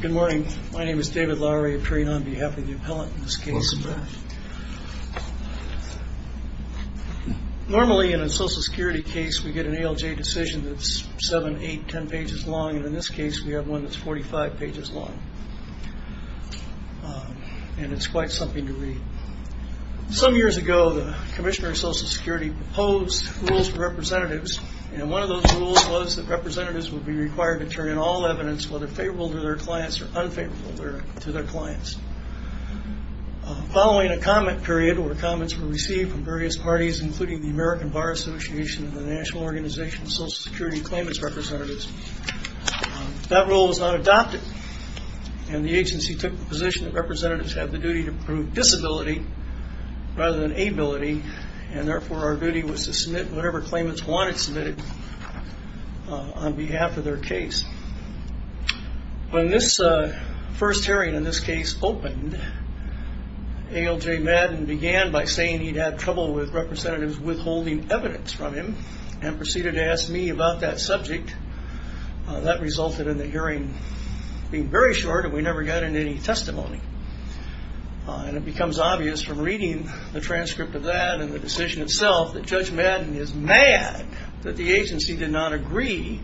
Good morning. My name is David Lowery of Train on behalf of the appellant in this case. Normally in a social security case we get an ALJ decision that's 7, 8, 10 pages long and in this case we have one that's 45 pages long. And it's quite something to read. Some years ago the Commissioner of Social Security proposed rules for representatives and one of those rules was that representatives would be required to turn in all evidence whether favorable to their clients or unfavorable to their clients. Following a comment period where comments were received from various parties including the American Bar Association and the National Organization of Social Security Claimants Representatives, that rule was not adopted and the agency took the position that representatives had the duty to prove disability rather than ability and therefore our duty was to submit whatever claimants wanted submitted on behalf of their case. When this first hearing in this case opened ALJ Madden began by saying he'd have trouble with representatives withholding evidence from him and proceeded to ask me about that subject. That resulted in the hearing being very short and we never got any testimony. And it becomes obvious from reading the transcript of that and the decision itself that Judge Madden is mad that the agency did not agree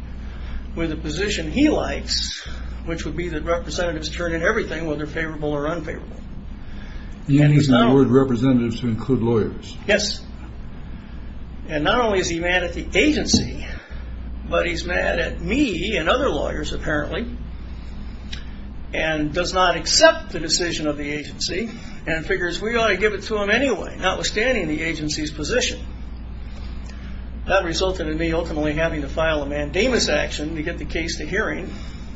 with the position he likes which would be that representatives turn in everything whether favorable or unfavorable. And he's mad at me and other lawyers apparently and does not accept the decision of the agency and figures we ought to give it to him anyway notwithstanding the agency's position. That resulted in me ultimately having to file a mandamus action to get the case to hearing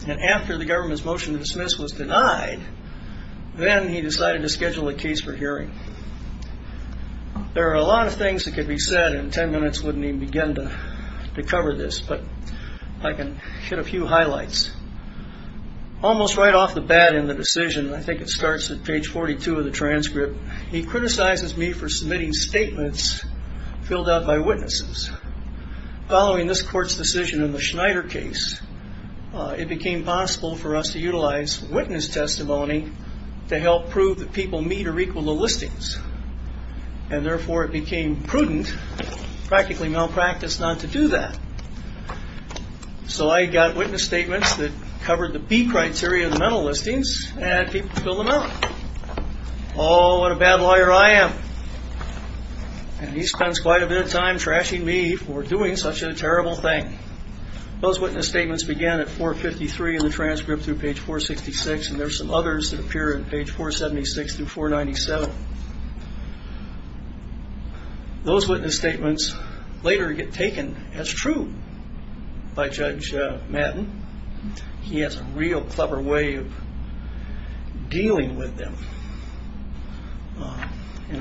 and after the government's motion to dismiss was denied then he decided to schedule a case for hearing. There are a lot of things that could be said in ten minutes wouldn't even begin to cover this but I can hit a few highlights. Almost right off the bat in the decision I think it starts at page 42 of the transcript he criticizes me for submitting statements filled out by witnesses. Following this court's decision in the Schneider case it became possible for us to utilize witness testimony to help prove that people meet or equal the listings and therefore it became prudent practically malpractice not to do that. So I got witness statements that covered the B criteria of the mental listings and people filled them out. Oh what a bad lawyer I am and he spends quite a bit of time trashing me for doing such a terrible thing. Those witness statements began at 453 in the transcript through page 466 and there are some others that appear in page 476 through 497. Those witness statements later get taken as true by Judge Madden. He has a real clever way of dealing with them.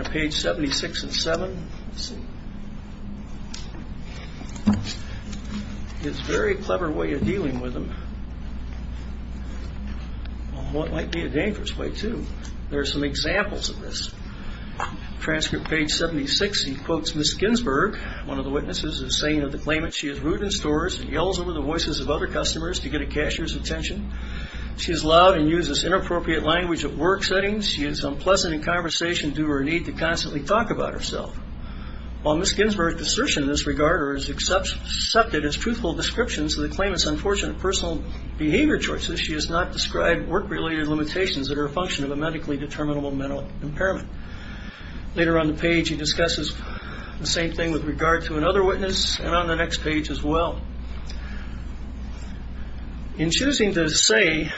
Page 76 and 7 is a very clever way of dealing with them. Well it might be a dangerous way too. There are some examples of this. Transcript page 76 he quotes Ms. Ginsburg one of the witnesses is saying of the claimant she is rude in stores and yells over the voices of other customers to get a cashier's attention. She is loud and uses inappropriate language at work settings. She is unpleasant in conversation due to her need to constantly talk about herself. While Ms. Ginsburg's assertion in this regard is accepted as truthful descriptions of the claimant's unfortunate personal behavior choices she has not described work related limitations that are a function of a medically determinable mental impairment. Later on the page he discusses the same thing with regard to another witness and on the next page as well. In choosing to say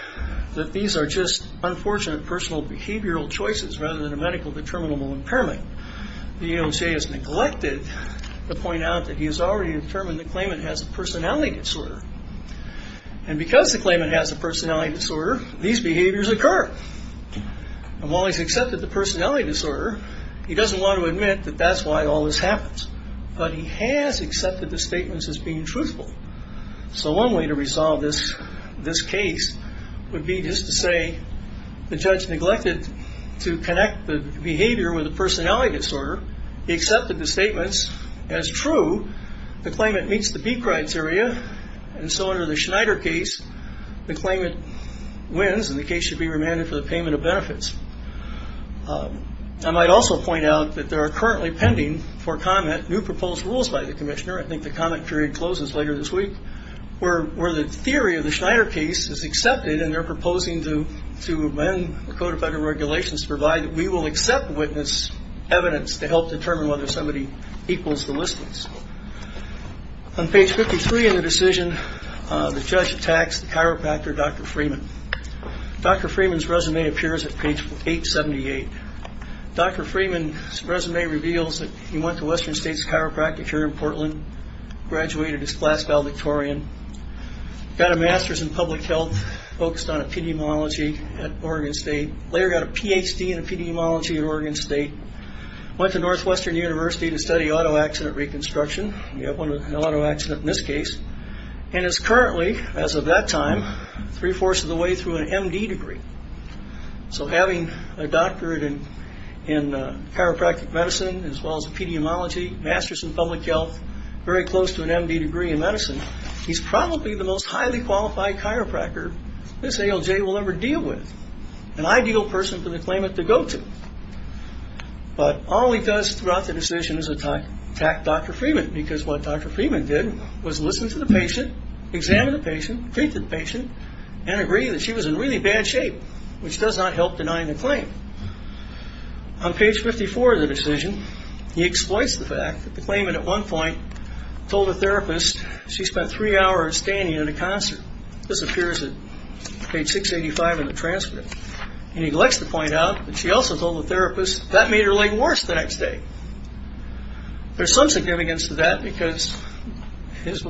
that these are just unfortunate personal behavioral choices rather than a medically determinable impairment the AOJ has neglected to point out that he has already determined the claimant has a personality disorder. And because the claimant has a personality disorder these behaviors occur. And while he's accepted the personality disorder he doesn't want to admit that that's why all this happens. But he has accepted the statements as being truthful. So one way to resolve this case would be just to say the judge neglected to connect the behavior with a personality disorder. He accepted the statements as true. The claimant meets the beak rights area and so under the Schneider case the claimant wins and the case should be remanded for the payment of benefits. I might also point out that there are currently pending for comment new proposed rules by the commissioner. I think the comment period closes later this week where the theory of the Schneider case is accepted and they're proposing to amend the Code of Federal Regulations to provide that we will accept witness evidence to help determine whether somebody equals the listings. On page 53 in the decision the judge attacks the chiropractor Dr. Freeman. Dr. Freeman's resume appears at page 878. Dr. Freeman's resume reveals that he went to Western State's chiropractic here in Portland, graduated as class valedictorian, got a master's in public health focused on epidemiology at Oregon State, later got a Ph.D. in epidemiology at Oregon State, went to Northwestern University to study auto accident reconstruction. You have an auto accident in this case and is currently, as of that time, three-fourths of the way through an M.D. degree. So having a doctorate in chiropractic medicine as well as epidemiology, master's in public health, very close to an M.D. degree in medicine, he's probably the most highly qualified chiropractor this ALJ will ever deal with. An ideal person for the claimant to go to. But all he does throughout the decision is attack Dr. Freeman because what Dr. Freeman did was listen to the patient, examine the patient, treat the patient, and agree that she was in really bad shape, which does not help denying the claim. On page 54 of the decision he exploits the fact that the claimant at one point told the therapist she spent three hours standing in a concert. This appears at page 685 in the transcript. He neglects to point out that she also told the therapist that made her leg worse the next day. There's some significance to that because his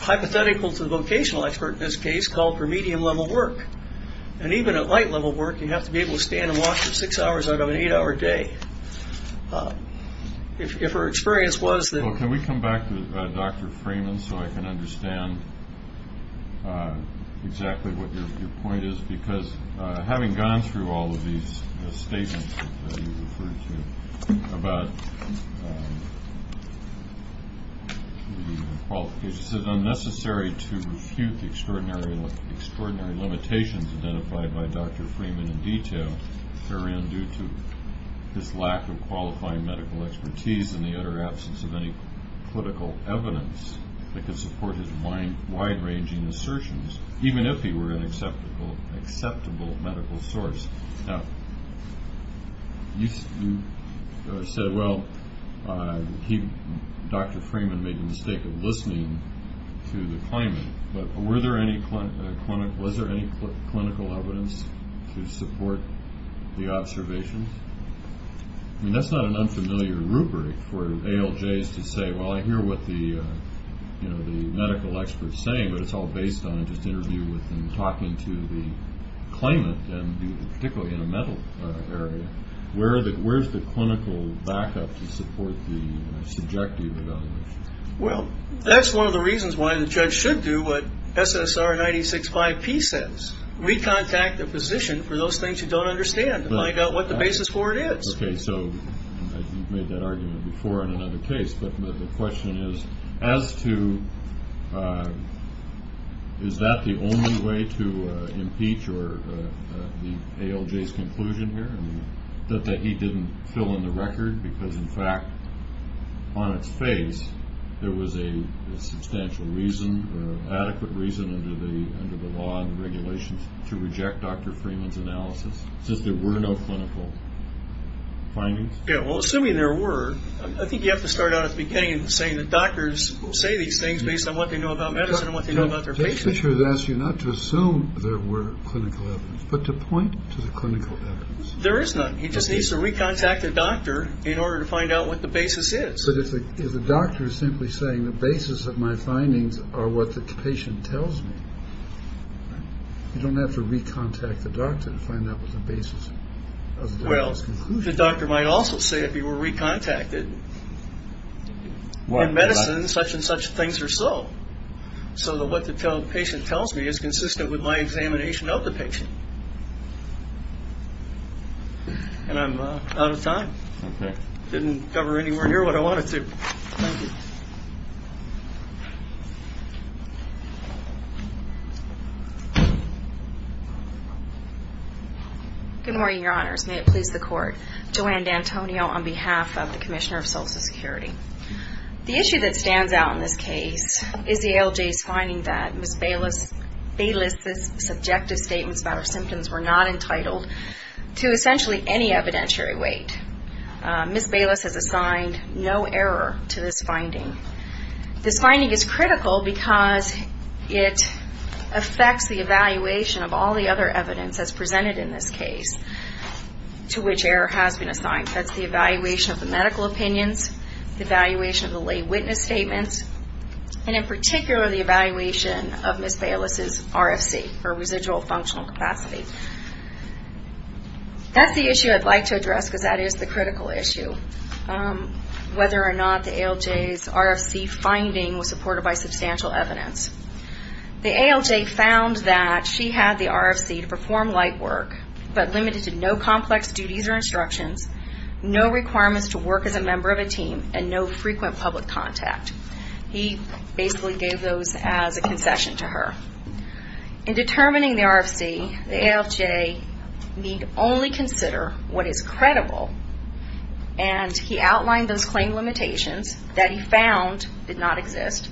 hypothetical to the vocational expert in this case called for medium-level work. And even at light-level work, you have to be able to stand and walk for six hours out of an eight-hour day. If her experience was that... Well, can we come back to Dr. Freeman so I can understand exactly what your point is? Because having gone through all of these statements that you referred to about the qualifications, is it unnecessary to refute the extraordinary limitations identified by Dr. Freeman in detail around due to his lack of qualifying medical expertise and the utter absence of any political evidence that could support his wide-ranging assertions, even if he were an acceptable medical source? Now, you said, well, Dr. Freeman made the mistake of listening to the claimant, but was there any clinical evidence to support the observation? I mean, that's not an unfamiliar rubric for ALJs to say, well, I hear what the medical expert's saying, but it's all based on just interviewing with them and talking to the claimant, and particularly in a mental area, where's the clinical backup to support the subjective evaluation? Well, that's one of the reasons why the judge should do what SSR 96-5P says, recontact a physician for those things you don't understand to find out what the basis for it is. Okay, so you've made that argument before in another case, but the question is as to is that the only way to impeach or the ALJ's conclusion here, that he didn't fill in the record because, in fact, on its face, there was a substantial reason or adequate reason under the law and the regulations to reject Dr. Freeman's analysis, since there were no clinical findings? Yeah, well, assuming there were, I think you have to start out at the beginning in saying that doctors will say these things based on what they know about medicine and what they know about their patients. The judge has asked you not to assume there were clinical evidence, but to point to the clinical evidence. There is none. He just needs to recontact the doctor in order to find out what the basis is. But if the doctor is simply saying the basis of my findings are what the patient tells me, you don't have to recontact the doctor to find out what the basis of the doctor's conclusion is. The doctor might also say if you were recontacted in medicine, such and such things are so, so that what the patient tells me is consistent with my examination of the patient. And I'm out of time. Okay. Didn't cover anywhere near what I wanted to. Thank you. Good morning, Your Honors. May it please the Court. Joanne D'Antonio on behalf of the Commissioner of Social Security. The issue that stands out in this case is the ALJ's finding that Ms. Bayless' subjective statements about her symptoms were not entitled to essentially any evidentiary weight. Ms. Bayless has assigned no error to this finding. This finding is critical because it affects the evaluation of all the other evidence as presented in this case to which error has been assigned. That's the evaluation of the medical opinions, the evaluation of the lay witness statements, and in particular the evaluation of Ms. Bayless' RFC, or residual functional capacity. That's the issue I'd like to address because that is the critical issue, whether or not the ALJ's RFC finding was supported by substantial evidence. The ALJ found that she had the RFC to perform light work, but limited to no complex duties or instructions, no requirements to work as a member of a team, and no frequent public contact. He basically gave those as a concession to her. In determining the RFC, the ALJ need only consider what is credible, and he outlined those claim limitations that he found did not exist.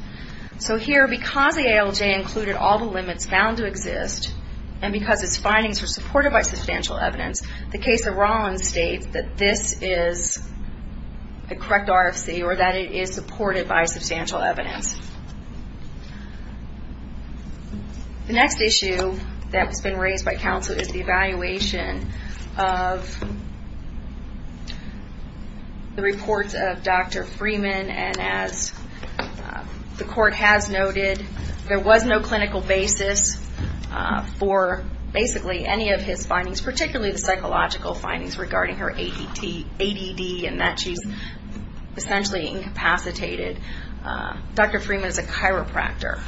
So here, because the ALJ included all the limits found to exist, and because its findings were supported by substantial evidence, the case of Rollins states that this is the correct RFC, or that it is supported by substantial evidence. The next issue that's been raised by counsel is the evaluation of the reports of Dr. Freeman, and as the court has noted, there was no clinical basis for basically any of his findings, particularly the psychological findings regarding her ADD and that she's essentially incapacitated. Dr. Freeman is a chiropractor,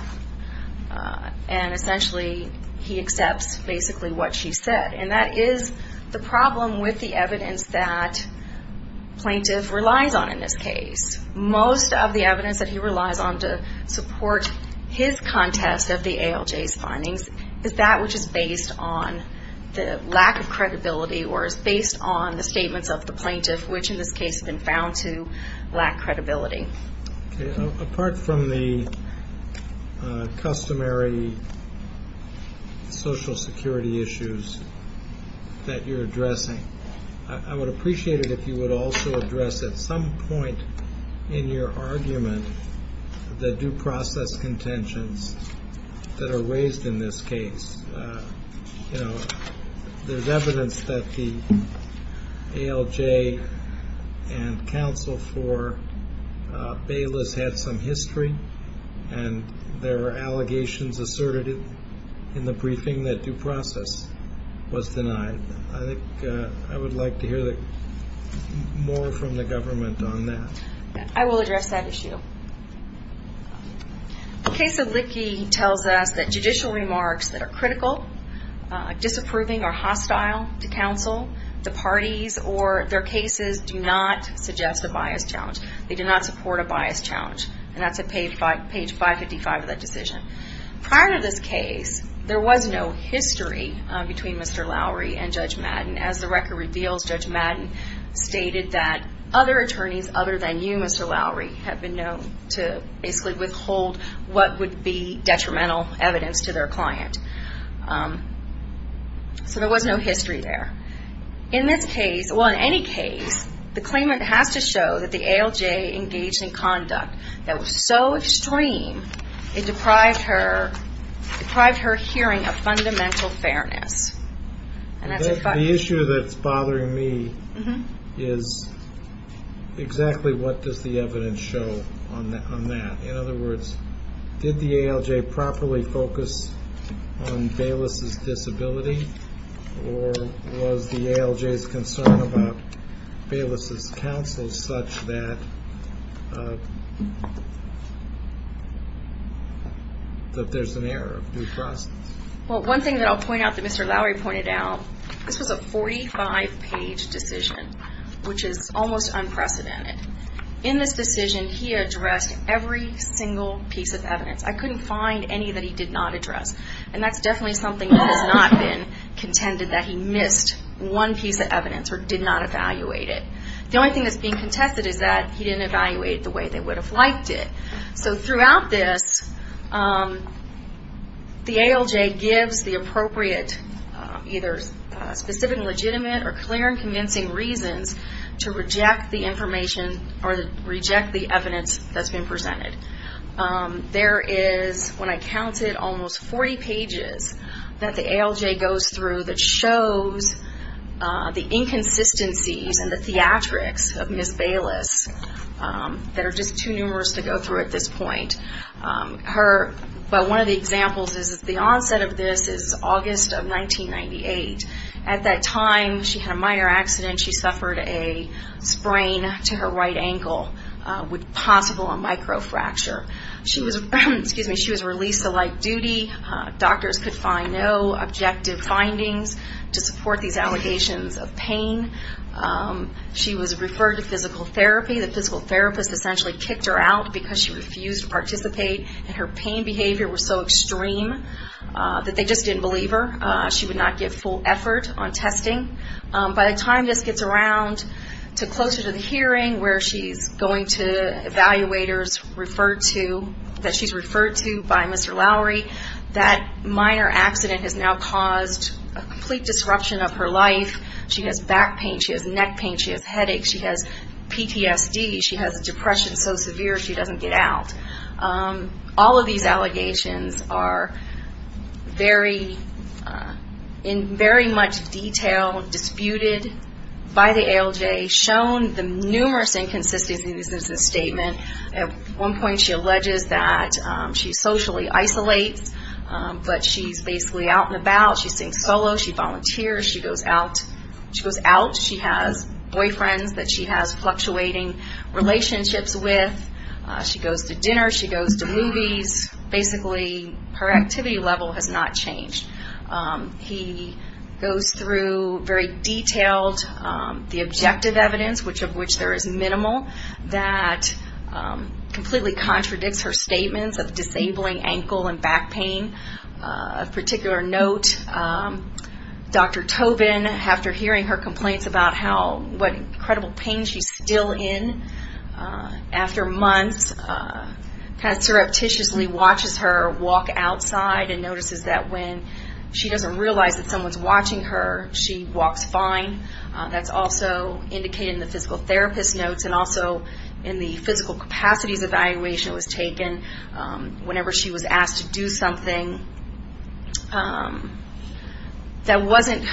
and essentially he accepts basically what she said, and that is the problem with the evidence that plaintiff relies on in this case. Most of the evidence that he relies on to support his contest of the ALJ's findings is that which is based on the lack of credibility, or is based on the statements of the plaintiff, which in this case have been found to lack credibility. Okay. Apart from the customary Social Security issues that you're addressing, I would appreciate it if you would also address at some point in your argument the due process contentions that are raised in this case. There's evidence that the ALJ and counsel for Bayless had some history, and there were allegations asserted in the briefing that due process was denied. I would like to hear more from the government on that. I will address that issue. The case of Lickey tells us that judicial remarks that are critical, disapproving, or hostile to counsel, the parties or their cases do not suggest a bias challenge. They do not support a bias challenge, and that's at page 555 of that decision. Prior to this case, there was no history between Mr. Lowry and Judge Madden. As the record reveals, Judge Madden stated that other attorneys other than you, Mr. Lowry, have been known to basically withhold what would be detrimental evidence to their client. So there was no history there. In this case, well, in any case, the claimant has to show that the ALJ engaged in conduct that was so extreme it deprived her hearing of fundamental fairness. The issue that's bothering me is exactly what does the evidence show on that? In other words, did the ALJ properly focus on Bayless' disability, or was the ALJ's concern about Bayless' counsel such that there's an error of due process? Well, one thing that I'll point out that Mr. Lowry pointed out, this was a 45-page decision, which is almost unprecedented. In this decision, he addressed every single piece of evidence. I couldn't find any that he did not address, and that's definitely something that has not been contended that he missed one piece of evidence or did not evaluate it. The only thing that's being contested is that he didn't evaluate it the way they would have liked it. So throughout this, the ALJ gives the appropriate, either specific and legitimate or clear and convincing reasons to reject the information or reject the evidence that's been presented. There is, when I counted, almost 40 pages that the ALJ goes through that shows the inconsistencies and the theatrics of Ms. Bayless that are just too numerous to go through at this point. But one of the examples is the onset of this is August of 1998. At that time, she had a minor accident. She suffered a sprain to her right ankle with possible micro fracture. She was released to light duty. Doctors could find no objective findings to support these allegations of pain. She was referred to physical therapy. The physical therapist essentially kicked her out because she refused to participate, and her pain behavior was so extreme that they just didn't believe her. She would not get full effort on testing. By the time this gets around to closer to the hearing where she's going to evaluators referred to, that she's referred to by Mr. Lowry, that minor accident has now caused a complete disruption of her life. She has back pain. She has neck pain. She has headaches. She has PTSD. She has depression so severe she doesn't get out. All of these allegations are very, in very much detail, disputed by the ALJ, shown the numerous inconsistencies in this statement. At one point she alleges that she socially isolates, but she's basically out and about. She sings solo. She volunteers. She goes out. She goes out. She has boyfriends that she has fluctuating relationships with. She goes to dinner. She goes to movies. Basically, her activity level has not changed. He goes through very detailed the objective evidence, which of which there is minimal, that completely contradicts her statements of disabling ankle and back pain. Of particular note, Dr. Tobin, after hearing her complaints about what incredible pain she's still in, after months, kind of surreptitiously watches her walk outside and notices that when she doesn't realize that someone's watching her, she walks fine. That's also indicated in the physical therapist notes and also in the physical capacities evaluation that was taken whenever she was asked to do something that wasn't,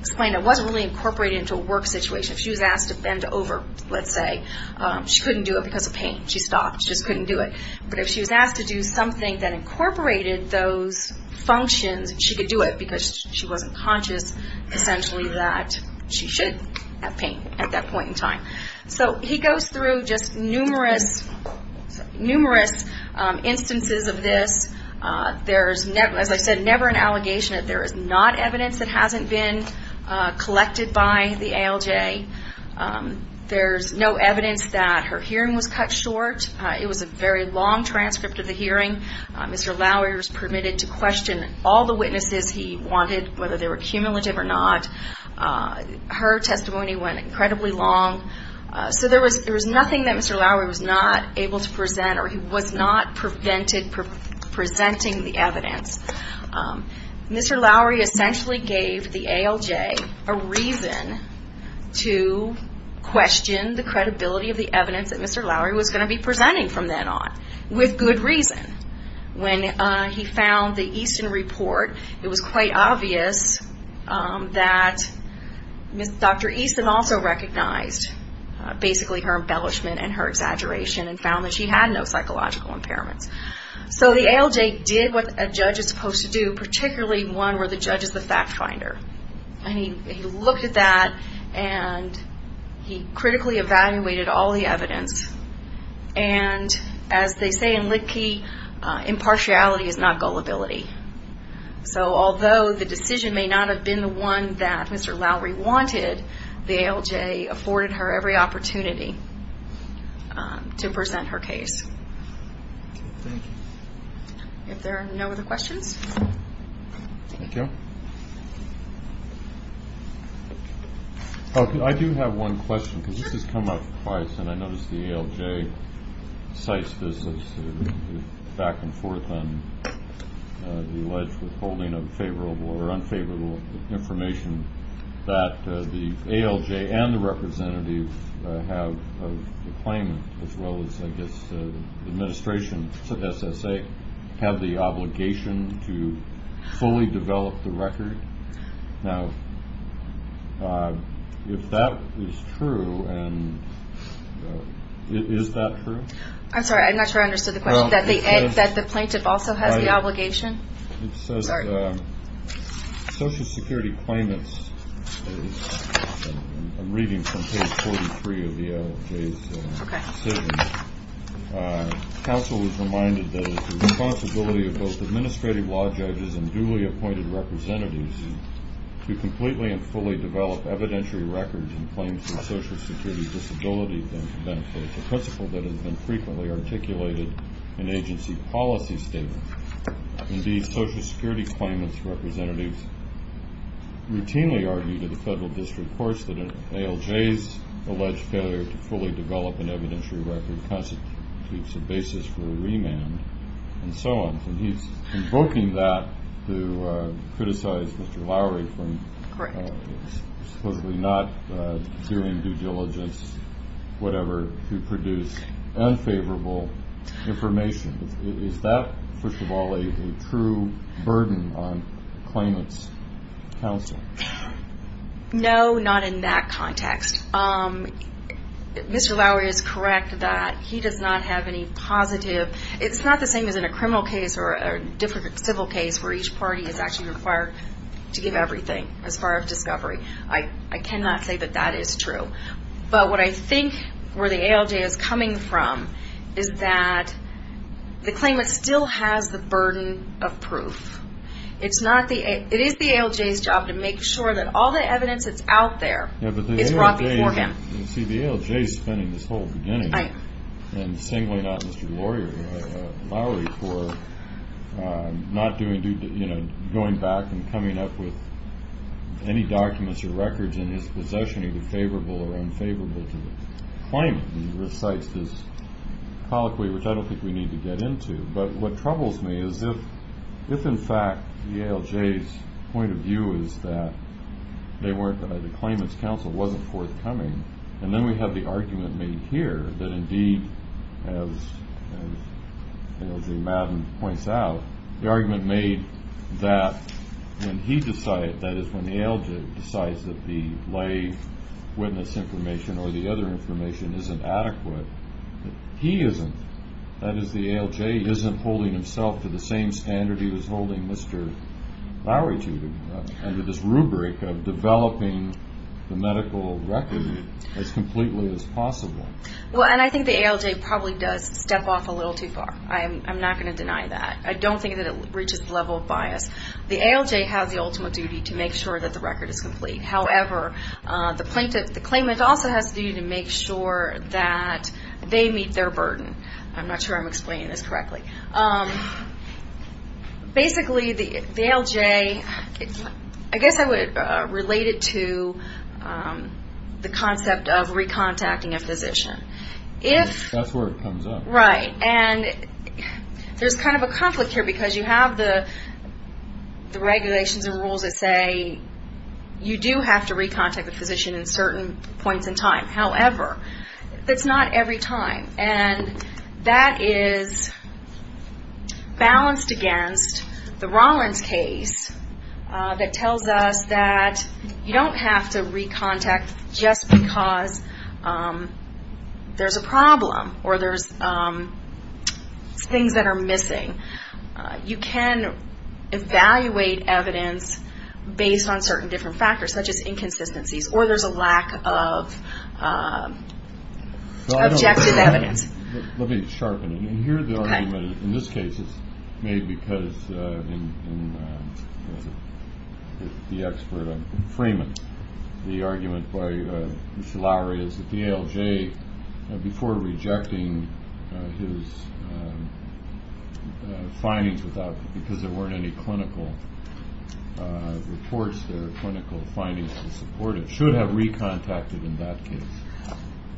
explained that wasn't really incorporated into a work situation. If she was asked to bend over, let's say, she couldn't do it because of pain. She stopped. She just couldn't do it. But if she was asked to do something that incorporated those functions, she could do it because she wasn't conscious essentially that she should have pain at that point in time. So he goes through just numerous instances of this. There's, as I said, never an allegation that there is not evidence that hasn't been collected by the ALJ. There's no evidence that her hearing was cut short. It was a very long transcript of the hearing. Mr. Lowery was permitted to question all the witnesses he wanted, whether they were cumulative or not. Her testimony went incredibly long. So there was nothing that Mr. Lowery was not able to present or he was not presented for presenting the evidence. Mr. Lowery essentially gave the ALJ a reason to question the credibility of the evidence that Mr. Lowery was going to be presenting from then on, with good reason. When he found the Easton report, it was quite obvious that Dr. Easton also recognized basically her embellishment and her exaggeration and found that she had no psychological impairments. So the ALJ did what a judge is supposed to do, particularly one where the judge is the fact finder. And he looked at that and he critically evaluated all the evidence. And as they say in Litkey, impartiality is not gullibility. So although the decision may not have been the one that Mr. Lowery wanted, the ALJ afforded her every opportunity to present her case. Thank you. Thank you. I do have one question because this has come up twice and I noticed the ALJ cites this back and forth on the alleged withholding of favorable or unfavorable information that the ALJ and the representative have of the claimant as well as I guess the administration of SSA have the obligation to fully develop the record. Now if that is true, is that true? I'm sorry, I'm not sure I understood the question. That the plaintiff also has the obligation? It says Social Security claimants, I'm reading from page 43 of the ALJ's statement. Council is reminded that it is the responsibility of both administrative law judges and duly appointed representatives to completely and fully develop evidentiary records and claims of Social Security disability benefits, a principle that has been frequently articulated in agency policy statements. Indeed, Social Security claimants' representatives routinely argue to the federal district courts that an ALJ's alleged failure to fully develop an evidentiary record constitutes a basis for a remand and so on. And he's invoking that to criticize Mr. Lowry for supposedly not doing due diligence, whatever, to produce unfavorable information. Is that, first of all, a true burden on claimants' counsel? No, not in that context. Mr. Lowry is correct that he does not have any positive, it's not the same as in a criminal case or a different civil case where each party is actually required to give everything as far as discovery. I cannot say that that is true. But what I think where the ALJ is coming from is that the claimant still has the burden of proof. It is the ALJ's job to make sure that all the evidence that's out there is brought before him. You see, the ALJ is spinning this whole beginning and singling out Mr. Lowry for not doing due diligence, going back and coming up with any documents or records in his possession that are favorable or unfavorable to the claimant. He recites this colloquy, which I don't think we need to get into. But what troubles me is if, in fact, the ALJ's point of view is that the claimant's counsel wasn't forthcoming, and then we have the argument made here that, indeed, as ALJ Madden points out, the argument made that when he decides, that is, when the ALJ decides that the lay witness information or the other information isn't adequate, he isn't. That is, the ALJ isn't holding himself to the same standard he was holding Mr. Lowry to, under this rubric of developing the medical record as completely as possible. Well, and I think the ALJ probably does step off a little too far. I'm not going to deny that. I don't think that it reaches the level of bias. The ALJ has the ultimate duty to make sure that the record is complete. However, the claimant also has the duty to make sure that they meet their burden. I'm not sure I'm explaining this correctly. Basically, the ALJ, I guess I would relate it to the concept of recontacting a physician. That's where it comes up. Right. There's kind of a conflict here because you have the regulations and rules that say you do have to recontact the physician in certain points in time. However, that's not every time. That is balanced against the Rollins case that tells us that you don't have to recontact just because there's a problem or there's things that are missing. You can evaluate evidence based on certain different factors, such as inconsistencies, or there's a lack of objective evidence. Let me sharpen it. Here, the argument in this case is made because the expert on Freeman, the argument by Mr. Lowry is that the ALJ, before rejecting his findings because there weren't any clinical reports, their clinical findings to support it, should have recontacted in that case.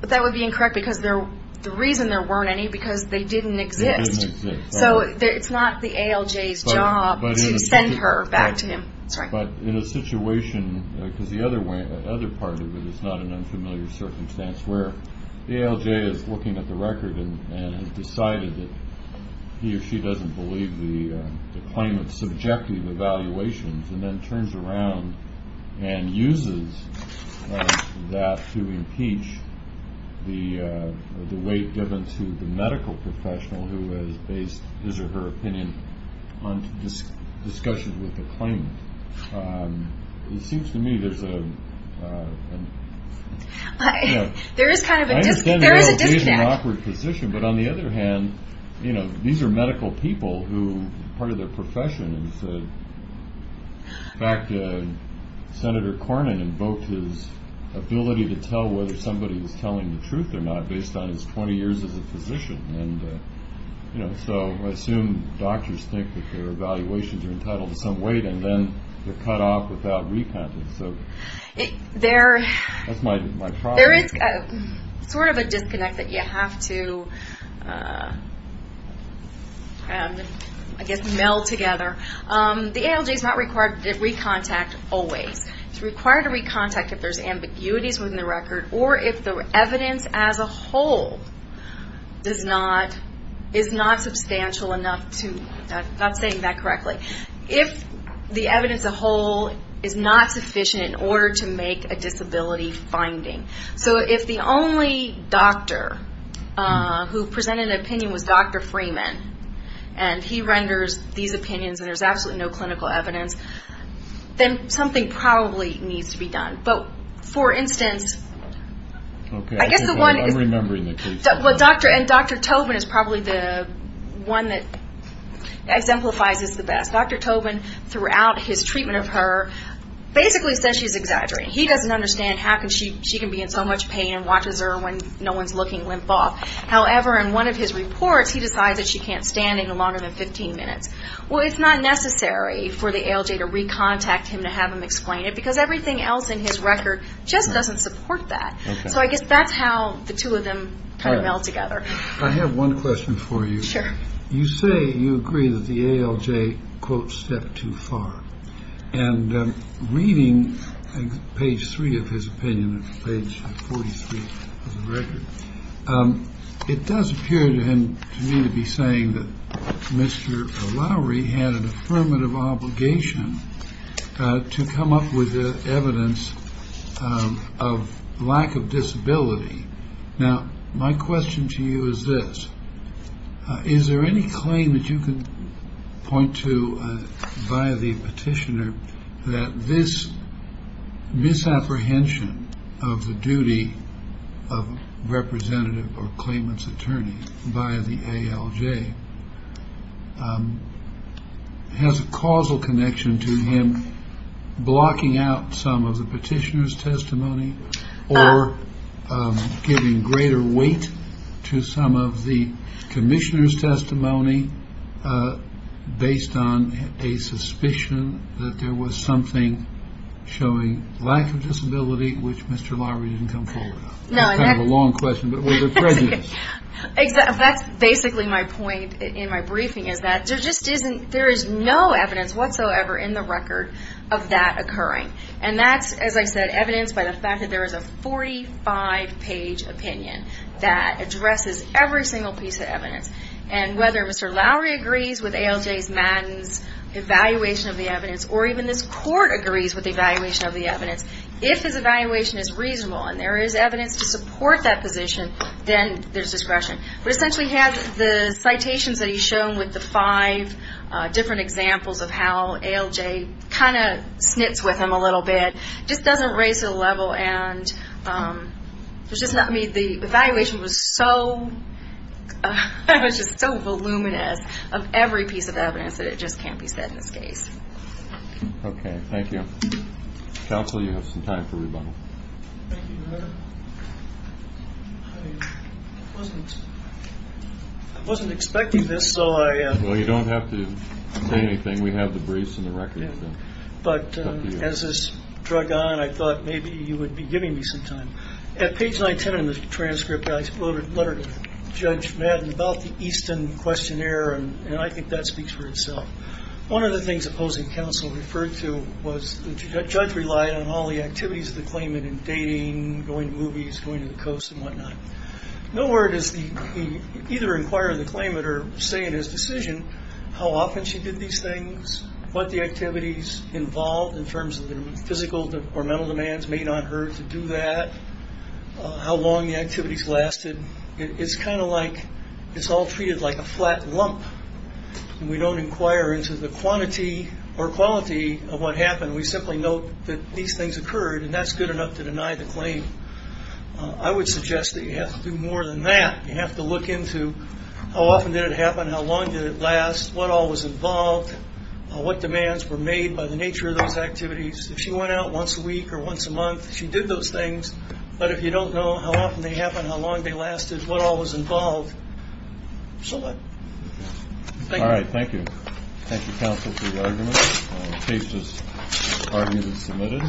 But that would be incorrect because the reason there weren't any is because they didn't exist. They didn't exist. So it's not the ALJ's job to send her back to him. But in a situation, because the other part of it is not an unfamiliar circumstance, where the ALJ is looking at the record and has decided that he or she doesn't believe the claimant's subjective evaluations and then turns around and uses that to impeach the weight given to the medical professional who has based his or her opinion on discussions with the claimant. It seems to me there's a... There is kind of a disconnect. I understand there's an awkward position, but on the other hand, these are medical people who, part of their profession, in fact, Senator Cornyn invoked his ability to tell whether somebody was telling the truth or not based on his 20 years as a physician. So I assume doctors think that their evaluations are entitled to some weight and then they're cut off without repenting. So that's my problem. There is sort of a disconnect that you have to, I guess, meld together. The ALJ is not required to recontact always. It's required to recontact if there's ambiguities within the record or if the evidence as a whole is not substantial enough to... I'm not saying that correctly. If the evidence as a whole is not sufficient in order to make a disability finding. So if the only doctor who presented an opinion was Dr. Freeman and he renders these opinions and there's absolutely no clinical evidence, then something probably needs to be done. But, for instance, I guess the one... Okay, I'm remembering the case. And Dr. Tobin is probably the one that exemplifies this the best. Dr. Tobin, throughout his treatment of her, basically says she's exaggerating. He doesn't understand how she can be in so much pain and watches her when no one's looking limp off. However, in one of his reports, he decides that she can't stand any longer than 15 minutes. Well, it's not necessary for the ALJ to recontact him to have him explain it because everything else in his record just doesn't support that. So I guess that's how the two of them kind of meld together. I have one question for you. Sure. You say you agree that the ALJ, quote, stepped too far. And reading page 3 of his opinion, page 43 of the record, it does appear to me to be saying that Mr. Lowry had an affirmative obligation to come up with evidence of lack of disability. Now, my question to you is this. Is there any claim that you can point to via the petitioner that this misapprehension of the duty of representative or claimant's attorney via the ALJ has a causal connection to him blocking out some of the petitioner's testimony or giving greater weight to some of the commissioner's testimony based on a suspicion that there was something showing lack of disability, which Mr. Lowry didn't come forward on? That's kind of a long question, but was it prejudice? That's basically my point in my briefing, is that there is no evidence whatsoever in the record of that occurring. And that's, as I said, evidence by the fact that there is a 45-page opinion that addresses every single piece of evidence. And whether Mr. Lowry agrees with ALJ's Madden's evaluation of the evidence or even this court agrees with the evaluation of the evidence, if his evaluation is reasonable and there is evidence to support that position, then there's discretion. We essentially have the citations that he's shown with the five different examples of how ALJ kind of snits with him a little bit. It just doesn't raise it a level. And the evaluation was just so voluminous of every piece of evidence that it just can't be said in this case. Counsel, you have some time for rebuttal. Thank you, Your Honor. I wasn't expecting this, so I... Well, you don't have to say anything. We have the briefs and the records. But as this drug on, I thought maybe you would be giving me some time. At page 910 in the transcript, I wrote a letter to Judge Madden about the Easton questionnaire, and I think that speaks for itself. One of the things opposing counsel referred to was the judge relied on all the activities of the claimant in dating, going to movies, going to the coast, and whatnot. Nowhere does he either inquire in the claimant or say in his decision how often she did these things, what the activities involved in terms of the physical or mental demands made on her to do that, how long the activities lasted. It's kind of like it's all treated like a flat lump, and we don't inquire into the quantity or quality of what happened. We simply note that these things occurred, and that's good enough to deny the claim. I would suggest that you have to do more than that. You have to look into how often did it happen, how long did it last, what all was involved, what demands were made by the nature of those activities. If she went out once a week or once a month, she did those things. But if you don't know how often they happened, how long they lasted, what all was involved, select. Thank you. All right, thank you. Thank you, counsel, for your argument. Case is argued and submitted.